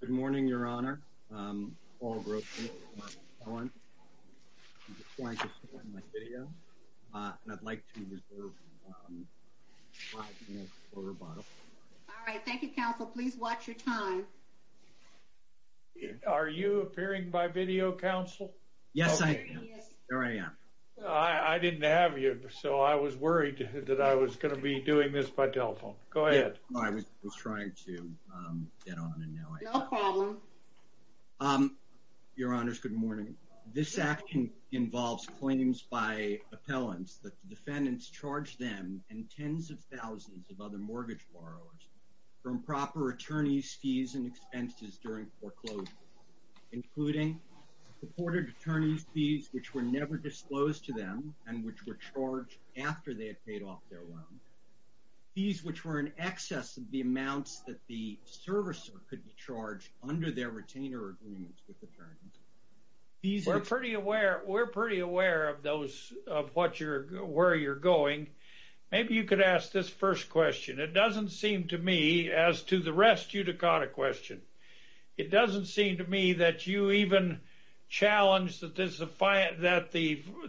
Good morning Your Honor. Paul Grossman. I'd like to reserve 5 minutes for rebuttal. Are you appearing by video counsel? Yes I am. I didn't have you so I was worried that I was going to be doing this by telephone. Go ahead. I was trying to get my phone on and now I have it. No problem. Your Honors, good morning. This action involves claims by appellants that the defendants charged them and tens of thousands of other mortgage borrowers from proper attorney's fees and expenses during foreclosure, including supported attorney's fees which were never disclosed to them and which were charged after they under their retainer agreements with the attorneys. We're pretty aware of where you're going. Maybe you could ask this first question. It doesn't seem to me, as to the rest, you'd have caught a question. It doesn't seem to me that you even challenged that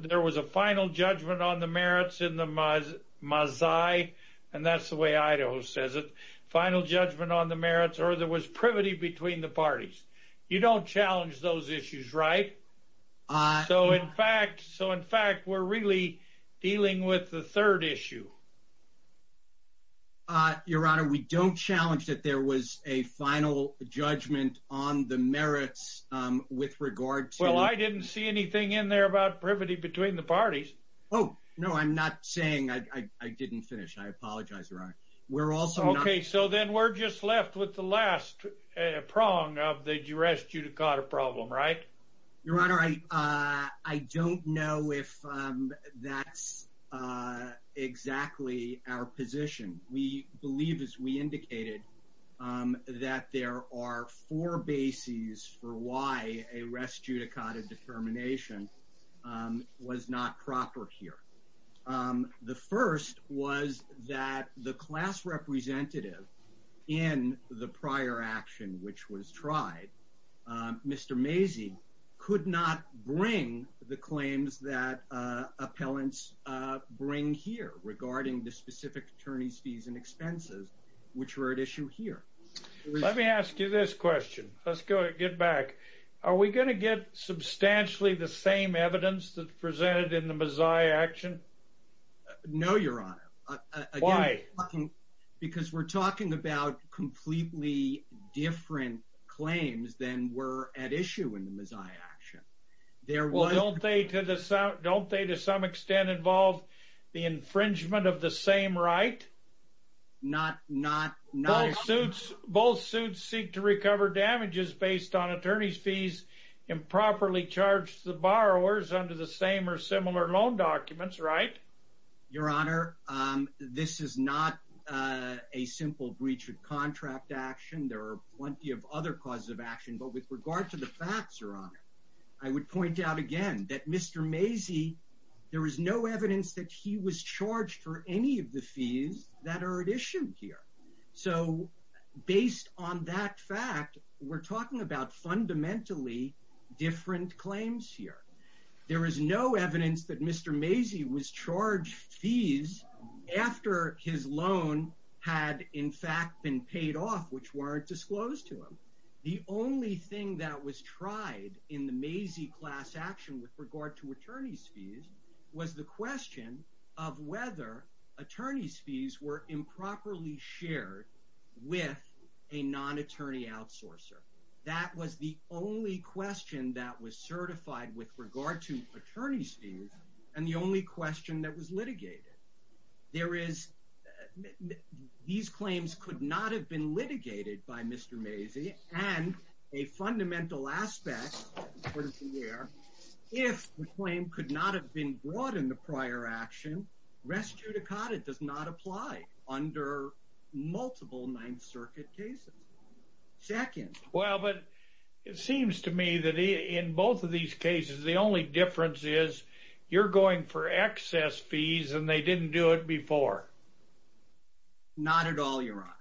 there was a final judgment on the merits in the Maazai, and that's the way Idaho says it, final judgment on the merits, or there was privity between the parties. You don't challenge those issues, right? So in fact, we're really dealing with the third issue. Your Honor, we don't challenge that there was a final judgment on the merits with regard to... Well, I didn't see anything in there about privity between the parties. Oh, no, I'm not saying... I didn't finish. I apologize, Your Honor. We're also not... Okay, so then we're just left with the last prong of the rest judicata problem, right? Your Honor, I don't know if that's exactly our position. We believe, as we indicated, that there are four bases for why a rest judicata determination was not proper here. The first was that the class representative in the prior action which was tried, Mr. Maazai, could not bring the claims that appellants bring here regarding the specific attorneys fees and expenses which were at issue here. Let me ask you this question. Let's go in the Maazai action? No, Your Honor. Why? Because we're talking about completely different claims than were at issue in the Maazai action. Don't they to some extent involve the infringement of the same right? Both suits seek to recover damages based on attorneys fees improperly charged to the loan documents, right? Your Honor, this is not a simple breach of contract action. There are plenty of other causes of action, but with regard to the facts, Your Honor, I would point out again that Mr. Maazai, there is no evidence that he was charged for any of the fees that are at issue here. So based on that fact, we're talking about fundamentally different claims here. There is no evidence that Mr. Maazai was charged fees after his loan had in fact been paid off which weren't disclosed to him. The only thing that was tried in the Maazai class action with regard to attorneys fees was the question of whether attorneys fees were improperly shared with a non-attorney outsourcer. That was the only question that was certified with regard to attorneys fees and the only question that was litigated. There is, these claims could not have been litigated by Mr. Maazai and a fundamental aspect here, if the claim could not have been brought in the prior action, res judicata does not apply under multiple Ninth Circuit cases. Second. Well, but it seems to me that in both of these cases the only difference is you're going for excess fees and they didn't do it before. Not at all, Your Honor.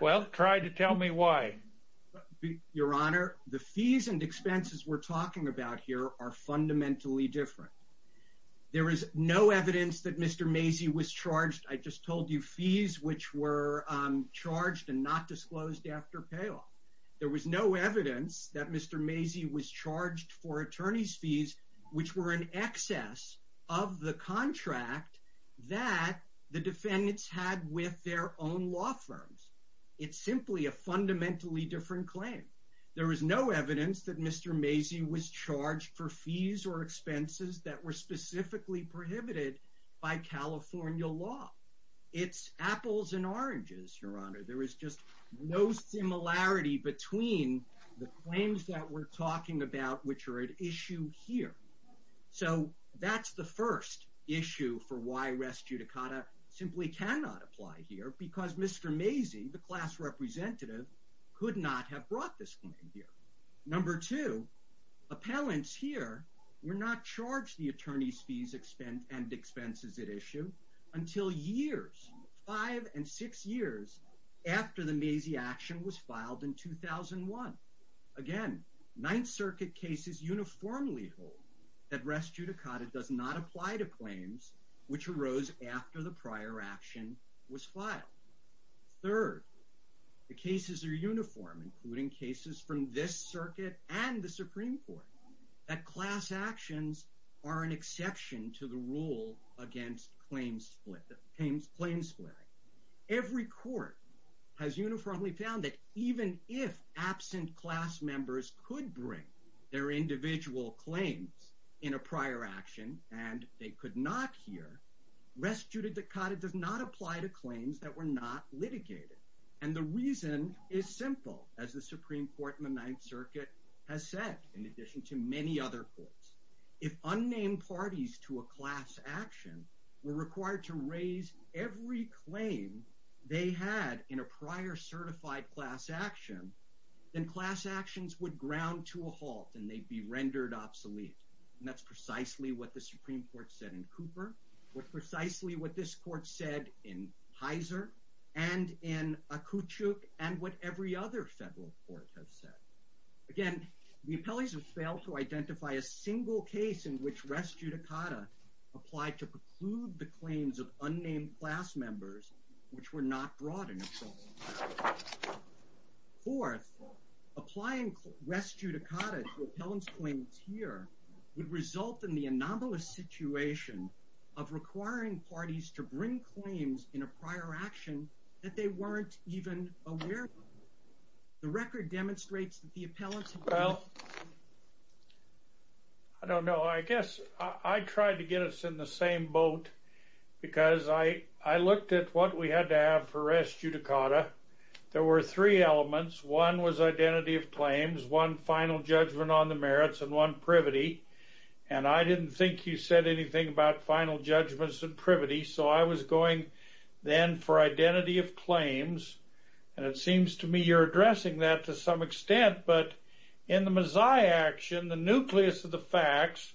Well, try to tell me why. Your Honor, the fees and expenses we're fundamentally different. There is no evidence that Mr. Maazai was charged, I just told you, fees which were charged and not disclosed after payoff. There was no evidence that Mr. Maazai was charged for attorneys fees which were in excess of the contract that the defendants had with their own law firms. It's simply a fundamentally different claim. There is no evidence that Mr. Maazai was charged for fees or expenses that were specifically prohibited by California law. It's apples and oranges, Your Honor. There is just no similarity between the claims that we're talking about, which are at issue here. So that's the first issue for why res judicata simply cannot apply here because Mr. Maazai, the class representative, could not have brought this claim here. Number two, appellants here were not charged the attorneys fees and expenses at issue until years, five and six years, after the Maazai action was filed in 2001. Again, Ninth Circuit cases uniformly hold that res judicata does not apply to claims which arose after the prior action was filed. Third, the cases are uniform, including cases from this circuit and the Supreme Court, that class actions are an exception to the rule against claims split, claims split. Every court has uniformly found that even if absent class members could bring their individual claims in a prior action and they could not here, res judicata does not apply to claims that were not litigated. And the reason is simple, as the Supreme Court in the Ninth Circuit has said, in addition to many other courts. If unnamed parties to a class action were required to raise every claim they had in a prior certified class action, then class actions would ground to a halt and they'd be rendered obsolete. And that's precisely what the Supreme Court said in Cooper, what precisely what this court said in Heiser, and in Akuchuk, and what every other federal court has said. Again, the appellees have failed to identify a single case in which res judicata applied to preclude the claims of unnamed class members which were not brought into court. Fourth, applying res judicata to appellant's claims here would result in the anomalous situation of requiring parties to bring claims in a prior action that they weren't even aware of. The record demonstrates that the appellants... I don't know. I guess I tried to get us in the same boat because I looked at what we had to have for res judicata. There were three elements. One was identity of claims, one final judgment on the merits, and one privity. And I didn't think you said anything about final judgments and privity, so I was going then for identity of claims. And it seems to me you're addressing that to some extent, but in the Mazzai action, the nucleus of the facts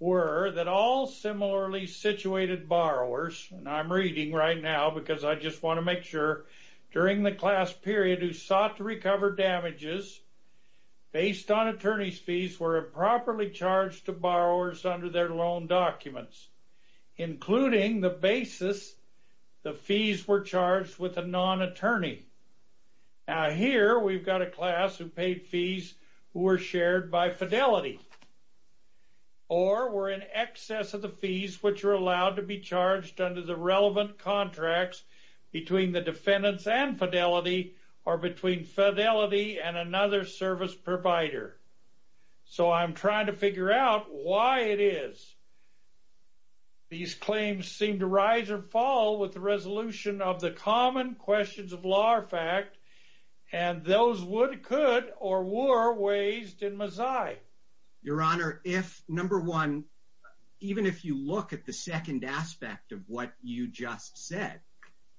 were that all similarly situated borrowers, and I'm reading right now because I just want to make sure, during the class period who sought to recover damages based on attorney's fees were improperly charged to borrowers under their loan documents, including the basis the fees were charged with a non-attorney. Now here we've got a class who paid fees who were shared by Fidelity or were in excess of the fees which are allowed to be charged under the relevant contracts between the defendants and Fidelity or between Fidelity and another service provider. So I'm trying to figure out why it is. These claims seem to rise or fall with the resolution of the common questions of law or fact, and those would, could, or were raised in Mazzai. Your Honor, if, number one, even if you look at the second aspect of what you just said,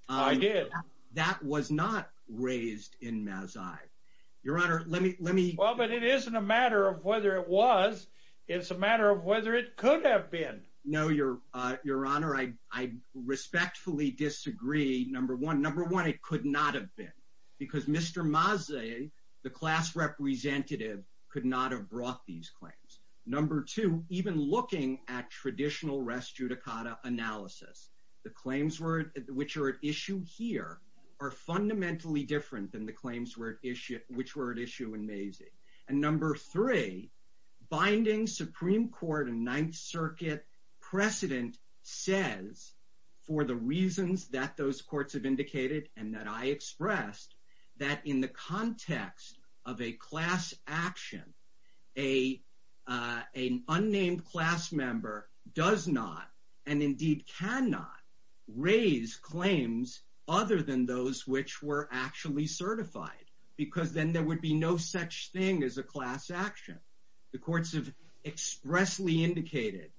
I did, that was not raised in Mazzai. Your Honor, let me, let me, well, but it isn't a matter of whether it was, it's a matter of whether it could have been. No, Your Honor, I respectfully disagree. Number one, number one, it could not have been because Mr. Mazzai, the class representative, could not have brought these claims. Number two, even looking at traditional rest judicata analysis, the claims were, which are at issue here, are fundamentally different than the claims were at issue, which were at issue in Mazzi. And number three, binding Supreme Court and Ninth Circuit precedent says for the that in the context of a class action, a, an unnamed class member does not, and indeed cannot, raise claims other than those which were actually certified, because then there would be no such thing as a class action. The courts have expressly indicated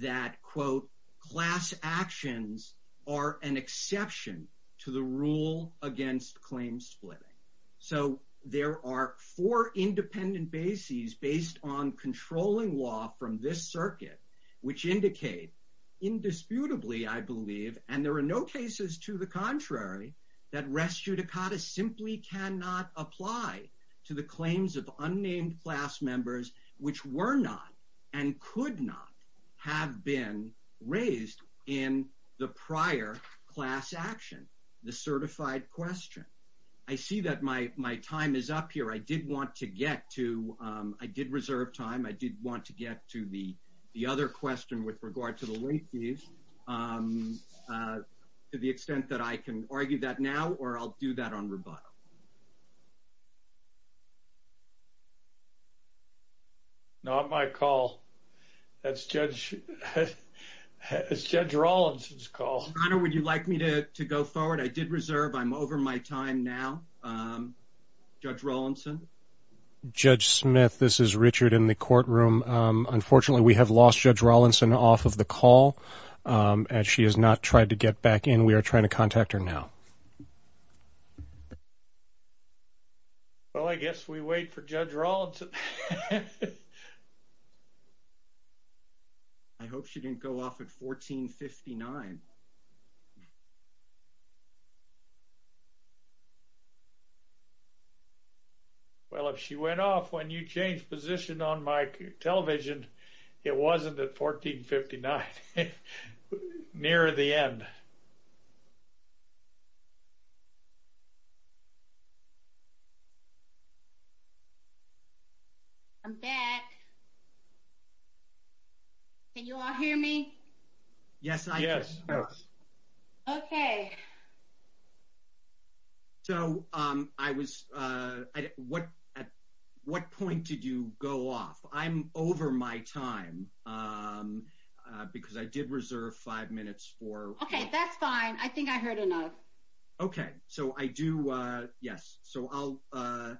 that, quote, class actions are an claim splitting. So there are four independent bases based on controlling law from this circuit, which indicate, indisputably, I believe, and there are no cases to the contrary, that rest judicata simply cannot apply to the claims of unnamed class members, which were not and could not have been raised in the prior class action, the certified question. I see that my time is up here. I did want to get to, I did reserve time. I did want to get to the other question with regard to the late fees, to the extent that I can argue that now, or I'll do that on rebuttal. Not my call. That's Judge, that's Judge Rawlinson's call. Your Honor, would you like me to go forward? I did reserve. I'm over my time now. Judge Rawlinson. Judge Smith, this is Richard in the courtroom. Unfortunately, we have lost Judge Rawlinson off of the call, and she has not tried to get back in. We are trying to contact her now. Well, I guess we wait for Judge Rawlinson. I hope she didn't go off at 1459. Well, if she went off when you changed position on my television, it wasn't at 1459, near the end. I'm back. Can you all hear me? Yes. Okay. So, I was, at what point did you go off? I'm over my time, because I did reserve five minutes for. Okay, that's fine. I think I heard enough. Okay. So, I do, yes. So, I'll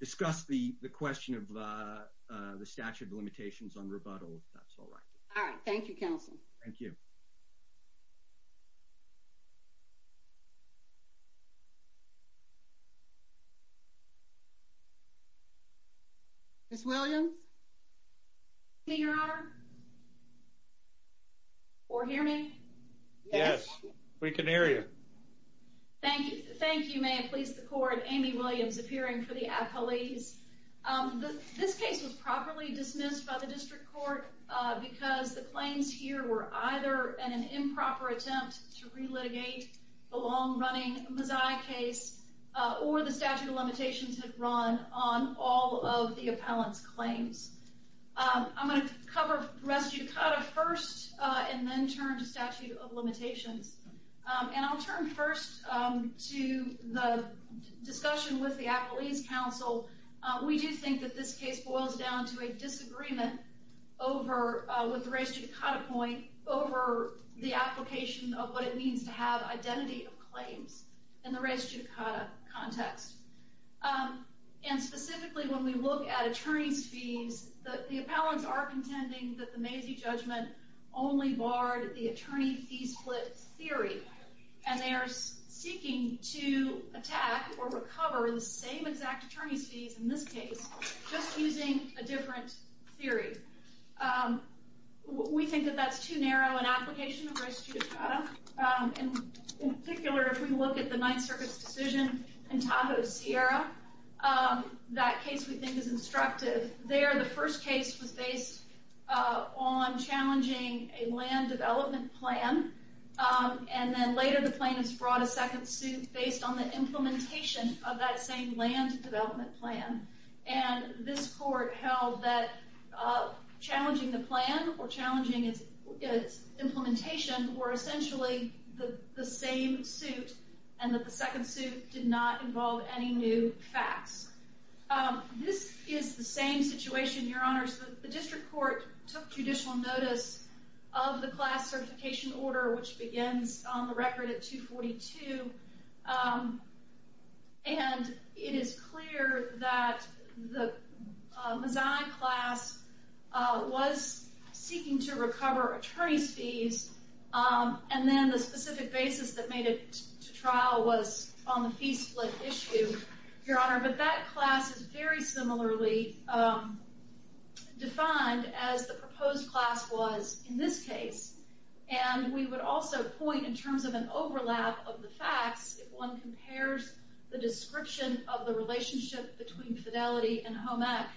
discuss the question of the statute of limitations on rebuttal, if that's all right. All right. Thank you, counsel. Thank you. Ms. Williams? Yes, Your Honor. Or hear me? Yes, we can hear you. Thank you. Thank you. May it please the court, Amy Williams, appearing for the appellees. This case was properly dismissed by the district court, because the claims here were either an improper attempt to relitigate the long-running Mazzei case, or the statute of limitations had run on all of the appellant's claims. I'm going to cover res judicata first, and then turn to statute of limitations. And I'll turn first to the discussion with the appellees' counsel. We do think that this case boils down to a disagreement with the res judicata point over the application of what it means to have identity of claims in the res judicata context. And specifically, when we look at attorney's fees, the appellants are contending that the Mazzei judgment only barred the attorney fee split theory. And they are seeking to attack or recover the same exact attorney's fees in this case, just using a different theory. We think that that's too narrow an application of res judicata. In particular, if we look at the Ninth Circuit's decision in Tahoe, Sierra, that case we think is instructive. There, the first case was based on challenging a land development plan. And then later, the plaintiffs brought a second suit based on the implementation of that same land development plan. And this court held that challenging the plan, or challenging its implementation, were essentially the same suit, and that the second suit did not involve any new facts. This is the same situation, Your Honors. The district court took judicial notice of the class certification order, which begins on the record at 242. And it is clear that the Mazzei class was seeking to recover attorney's fees. The basis that made it to trial was on the fee split issue, Your Honor. But that class is very similarly defined as the proposed class was in this case. And we would also point, in terms of an overlap of the facts, if one compares the description of the relationship between fidelity and HOME Act,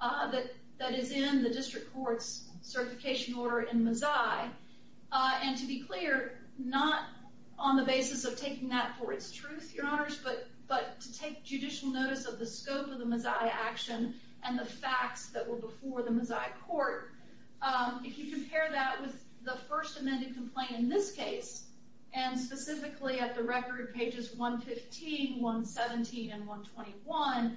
that is in the district court's certification order in Mazzei. And to be clear, not on the basis of taking that for its truth, Your Honors, but to take judicial notice of the scope of the Mazzei action and the facts that were before the Mazzei court. If you compare that with the first amended complaint in this case, and specifically at the record pages 115, 117, and 118,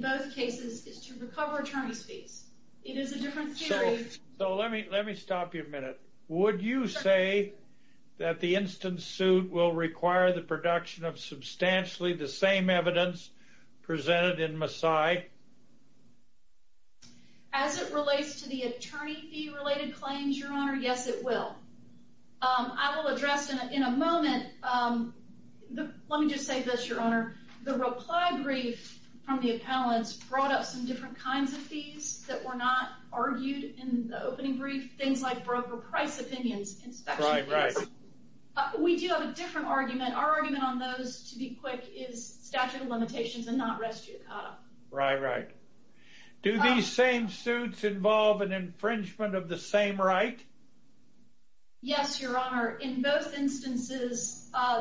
the basis is to recover attorney's fees. It is a different theory. So let me stop you a minute. Would you say that the instant suit will require the production of substantially the same evidence presented in Mazzei? As it relates to the attorney fee-related claims, Your Honor, yes, it will. I will address in a moment. Let me just say this, Your Honor. The reply brief from the appellants brought up some different kinds of fees that were not argued in the opening brief, things like broker price opinions, inspection fees. We do have a different argument. Our argument on those, to be quick, is statute of limitations and not res judicata. Right, right. Do these same suits involve an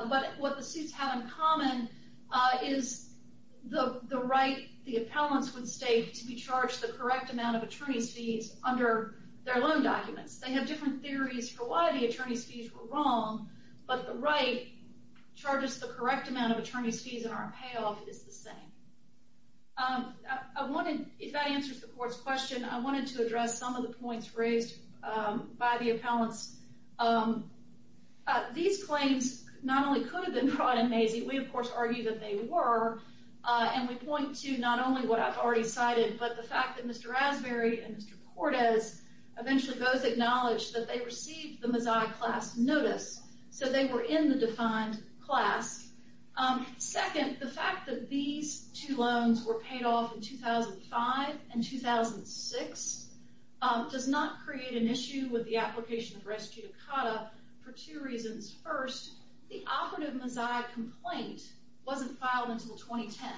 But what the suits have in common is the right the appellants would stake to be charged the correct amount of attorney's fees under their loan documents. They have different theories for why the attorney's fees were wrong, but the right charges the correct amount of attorney's fees and our payoff is the same. If that answers the court's question, I wanted to address some of raised by the appellants. These claims not only could have been brought in Mazzei, we of course argue that they were, and we point to not only what I've already cited, but the fact that Mr. Raspberry and Mr. Cortez eventually both acknowledged that they received the Mazzei class notice, so they were in the defined class. Second, the fact that these two loans were paid off in not create an issue with the application of res judicata for two reasons. First, the operative Mazzei complaint wasn't filed until 2010,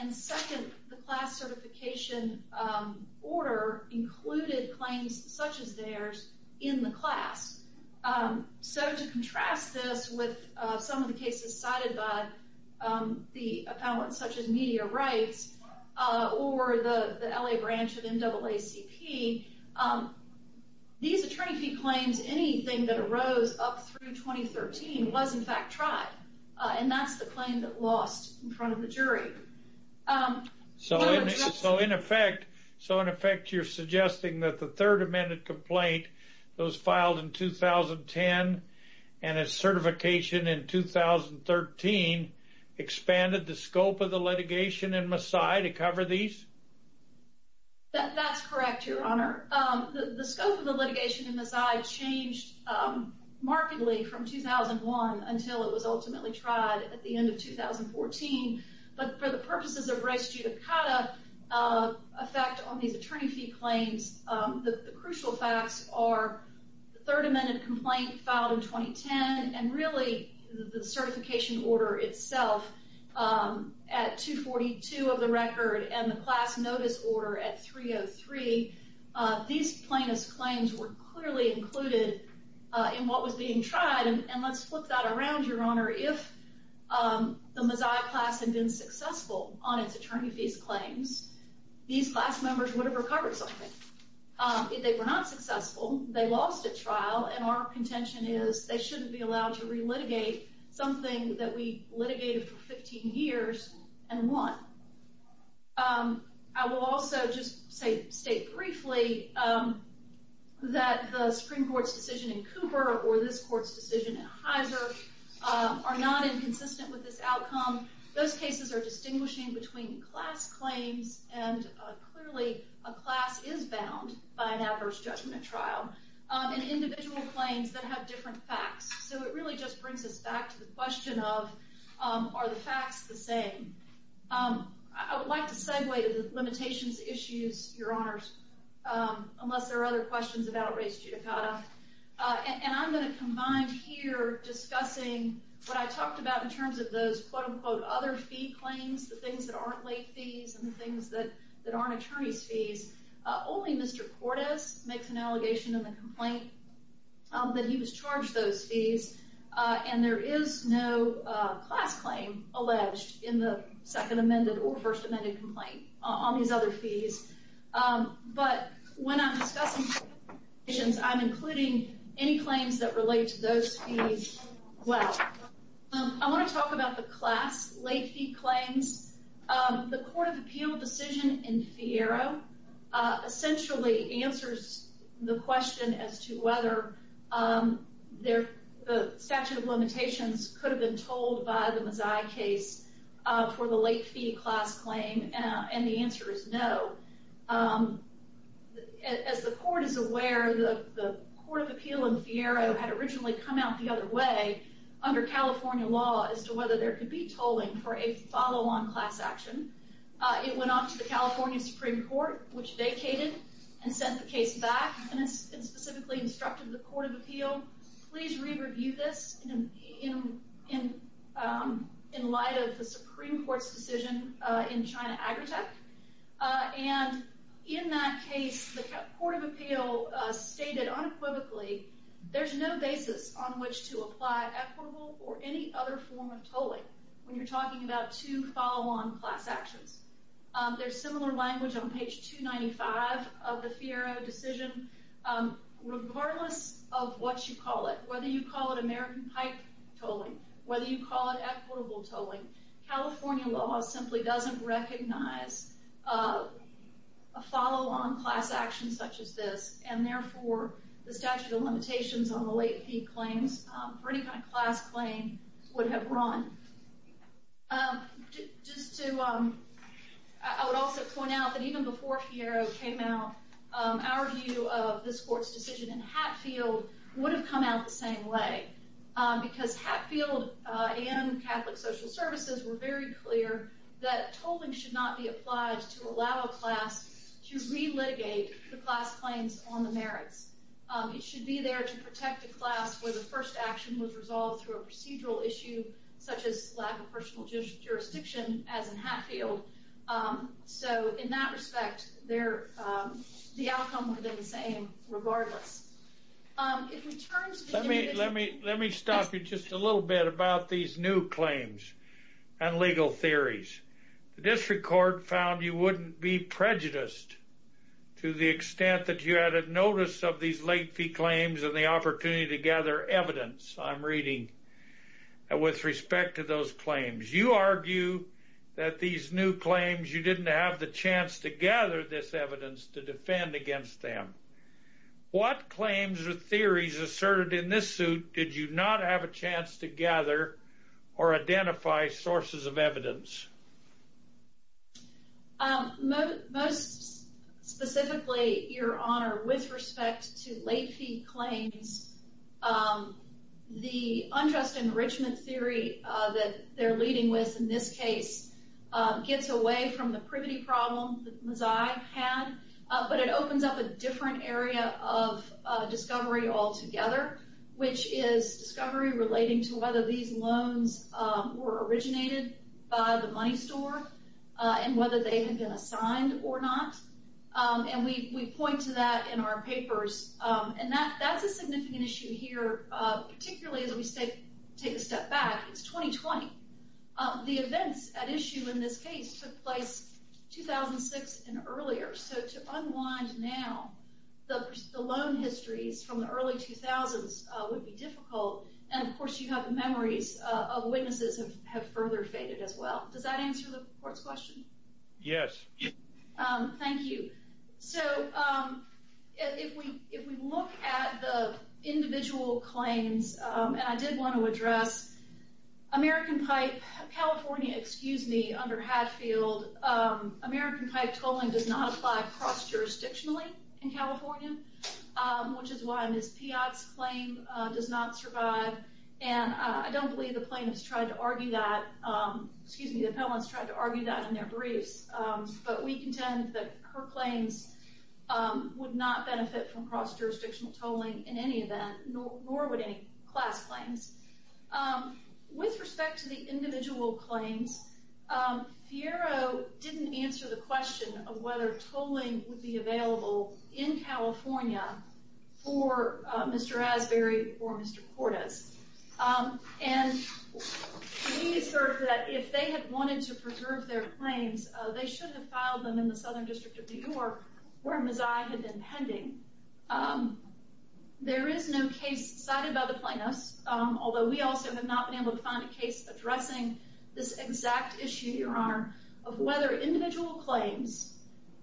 and second, the class certification order included claims such as theirs in the class. So to contrast this with some of the cases cited by the appellants such as Media Rights or the LA branch of NAACP, these attorney fee claims, anything that arose up through 2013 was in fact tried, and that's the claim that lost in front of the jury. So in effect, you're suggesting that the third amended complaint that was filed in 2010 and its certification in 2013 expanded the scope of the litigation in Mazzei to cover these? That's correct, your honor. The scope of the litigation in Mazzei changed markedly from 2001 until it was ultimately tried at the end of 2014, but for the purposes of res judicata effect on these attorney fee claims, the crucial facts are the third amended complaint filed in 2010 and really the certification order itself at 242 of the record and the class notice order at 303, these plaintiff's claims were clearly included in what was being tried. And let's flip that around, your honor. If the Mazzei class had been successful on its attorney fees claims, these class members would have recovered something. If they were not successful, they lost a trial, and our contention is they shouldn't be allowed to relitigate something that we litigated for 15 years and won. I will also just state briefly that the Supreme Court's decision in Cooper or this court's decision in Heiser are not inconsistent with this outcome. Those cases are distinguishing between class claims, and clearly a class is bound by an adverse judgment trial, and individual claims that have different facts. So it really just brings us back to the question of are the facts the same? I would like to segue to the limitations issues, your honors, unless there are other questions about res judicata, and I'm going to combine here discussing what I talked about in terms of those quote-unquote other fee claims, the things that aren't late fees, and the things that aren't attorney's fees. Only Mr. Cordes makes an allegation in the complaint that he was charged those fees, and there is no class claim alleged in the second amended or first amended complaint on these other fees. But when I'm discussing limitations, I'm including any claims that relate to those fees as well. I want to talk about the class late fee claims. The Court of Appeal decision in Fiero essentially answers the question as to whether the statute of limitations could have been told by the Mazzei case for the late fee class claim, and the answer is no. As the Court is aware, the Court of Appeal in Fiero had originally come out the other way under California law as to whether there could be tolling for a follow-on class action. It went off to the California Supreme Court, which vacated and sent the case back and specifically instructed the Court of Appeal, please re-review this in light of the Supreme Court's decision in China Agritech. And in that case, the Court of Appeal stated unequivocally there's no basis on which to apply equitable or any other form of tolling when you're talking about two follow-on class actions. There's similar language on page 295 of the Fiero decision. Regardless of what you call it, whether you call it American pipe tolling, whether you call it equitable tolling, California law simply doesn't recognize a follow-on class action such as this, and therefore the statute of limitations on the late fee claims for any kind of class claim would have run. Just to, I would also point out that even before Fiero came out, our view of this Court's decision in Hatfield would have come out the same way because Hatfield and Catholic Social Services were very clear that tolling should not be applied to allow a class to re-litigate the class claims on the merits. It should be there to protect a class where the first action was resolved through a procedural issue such as lack of personal jurisdiction as in Hatfield. So in that respect, they're, the outcome would have been the same regardless. Let me stop you just a little bit about these new claims and legal theories. The District Court found you wouldn't be prejudiced to the extent that you had a notice of these late fee claims and the opportunity to gather evidence, I'm reading, with respect to those claims. You argue that these new claims, you didn't have the chance to gather this evidence to defend against them. What claims or theories asserted in this suit did you not have a chance to gather or identify sources of evidence? Most specifically, Your Honor, with respect to late fee claims, the unjust enrichment theory that they're leading with in this case gets away from the privity problem that Mazzai had, but it opens up a different area of discovery altogether, which is discovery relating to whether these loans were originated by the money store and whether they had been assigned or not. And we point to that in our papers. And that's a significant issue here, particularly as we take a step back. It's 2020. The events at issue in this case took place 2006 and earlier, so to unwind now, the loan histories from the early 2000s would be difficult. And of course, you have the memories of witnesses have further faded as well. Does that answer the Court's question? Yes. Thank you. So if we look at the individual claims, and I did want to address American Pipe, California, excuse me, under Hadfield, American Pipe tolling does not apply cross-jurisdictionally in California, which is why Ms. Piott's claim does not survive. And I don't believe the plaintiffs tried to argue that, excuse me, the appellants tried to argue that in their briefs. But we contend that her claims would not benefit from cross-jurisdictional tolling in any event, nor would any class claims. With respect to the individual claims, Fiero didn't answer the question of whether tolling would be available in California for Mr. Asbury or Mr. Cordes. And we assert that if they had wanted to preserve their claims, they shouldn't have filed them in the Southern District of New York, where Mazzai had been pending. There is no case cited by the plaintiffs, although we also have not been able to find a case addressing this exact issue, Your Honor, of whether individual claims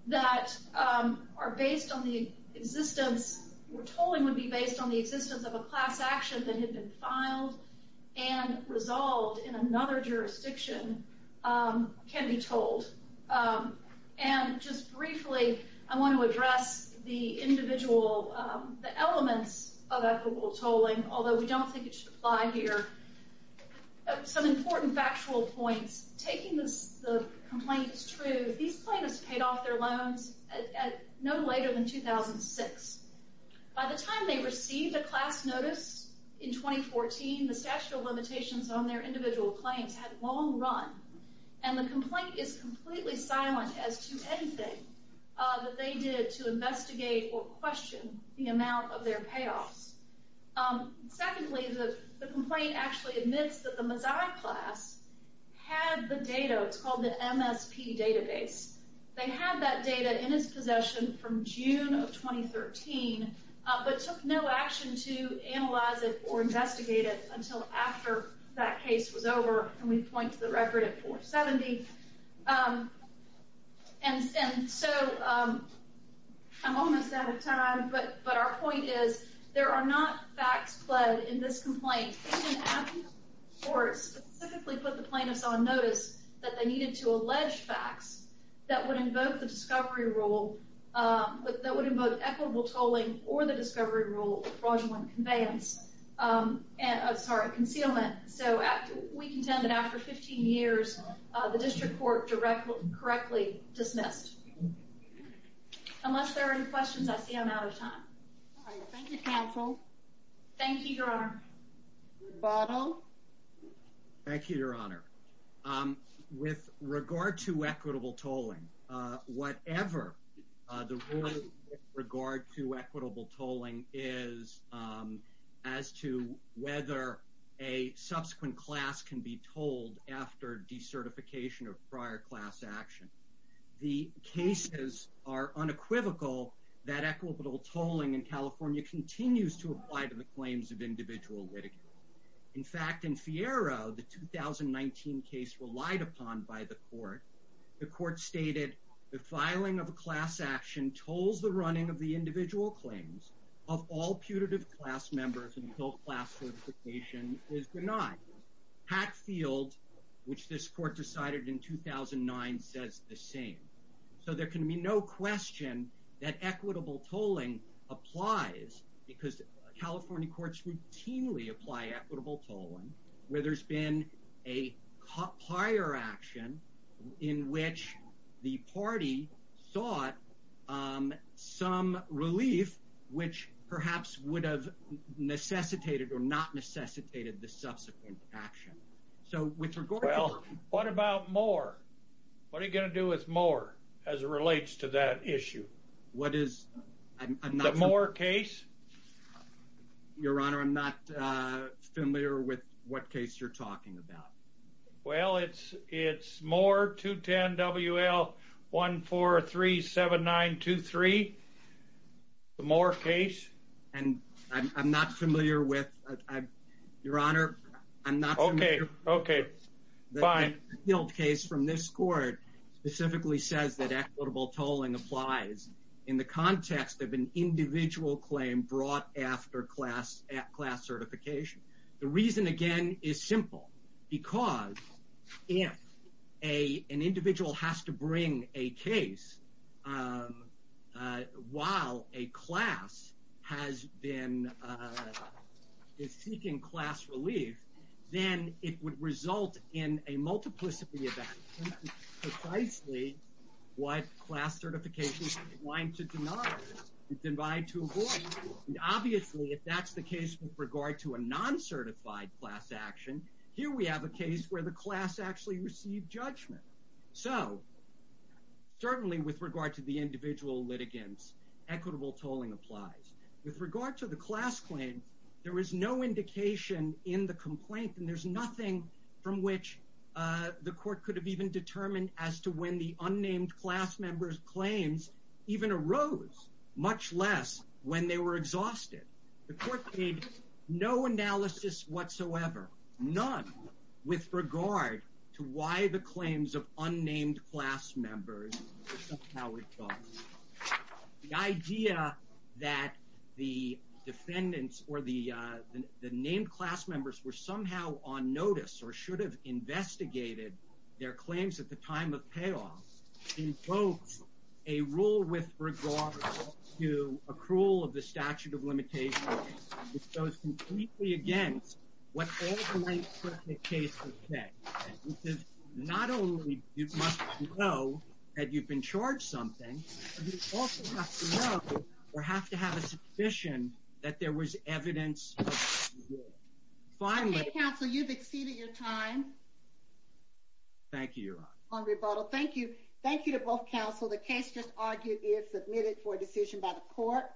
that are based on the existence, where tolling would be based on the existence of a class action that had been filed and resolved in another jurisdiction, can be tolled. And just briefly, I want to address the individual, the elements of equitable tolling, although we don't think it should apply here. Some important factual points. Taking the complaint as true, these plaintiffs paid off their loans no later than 2006. By the time they received a class notice in 2014, the statute of limitations on their individual claims had long run, and the complaint is completely silent as to anything that they did to investigate or question the amount of their payoffs. Secondly, the complaint actually admits that the Mazzai class had the data, it's called the MSP database. They had that data in its possession from June of 2013, but took no action to analyze it or investigate it until after that case was over, and we point to the record at 470. And so, I'm almost out of time, but our point is, there are not facts pled in this complaint. Even after the courts specifically put the plaintiffs on notice that they needed to allege facts that would invoke the discovery rule, that would invoke equitable tolling or the discovery rule of fraudulent conveyance, I'm sorry, concealment, so we contend that after 15 years, the district court directly, correctly dismissed. Unless there are any questions, I see I'm out of time. Thank you, counsel. Thank you, your honor. Bottle? Thank you, your honor. With regard to equitable tolling, whatever the rule is with regard to equitable tolling is as to whether a subsequent class can be told after decertification of prior class action. The cases are unequivocal that equitable tolling in California continues to apply to the claims of individual litigants. In fact, in Fiero, the 2019 case relied upon by the court, the court stated the filing of a class action tolls the running of the individual claims of all putative class members until class certification is denied. Hatfield, which this court decided in 2009, says the same. So, there can be no question that equitable tolling applies because California courts routinely apply equitable tolling where there's been a prior action in which the party sought some relief, which perhaps would have necessitated or not necessitated the subsequent action. So, with regard to... Well, what about Moore? What are you going to do with Moore as it relates to that issue? What is... The Moore case? Your Honor, I'm not familiar with what case you're talking about. Well, it's Moore 210 WL 1437923, the Moore case. And I'm not familiar with... Your Honor, I'm not familiar... Okay, okay, fine. The Hilt case from this court specifically says that equitable tolling applies in the individual claim brought after class certification. The reason, again, is simple. Because if an individual has to bring a case while a class is seeking class relief, then it would result in a multiplicity of actions, precisely what class certification is inclined to deny, is inclined to avoid. Obviously, if that's the case with regard to a non-certified class action, here we have a case where the class actually received judgment. So, certainly with regard to the individual litigants, equitable tolling applies. With regard to the class claims, there is no indication in the complaint and there's nothing from which the court could have even determined as to when the unnamed class member's claims even arose, much less when they were exhausted. The court made no analysis whatsoever, none, with regard to why the claims of unnamed class members were somehow exhausted. The idea that the defendants or the named class members were somehow on notice or should have investigated their claims at the time of payoff invokes a rule with regard to accrual of the statute of limitations, which goes completely against what all the right-prison officers have to know or have to have a suspicion that there was evidence. Okay, counsel, you've exceeded your time. Thank you, Your Honor. On rebuttal. Thank you. Thank you to both counsel. The case just argued is submitted for decision by the court.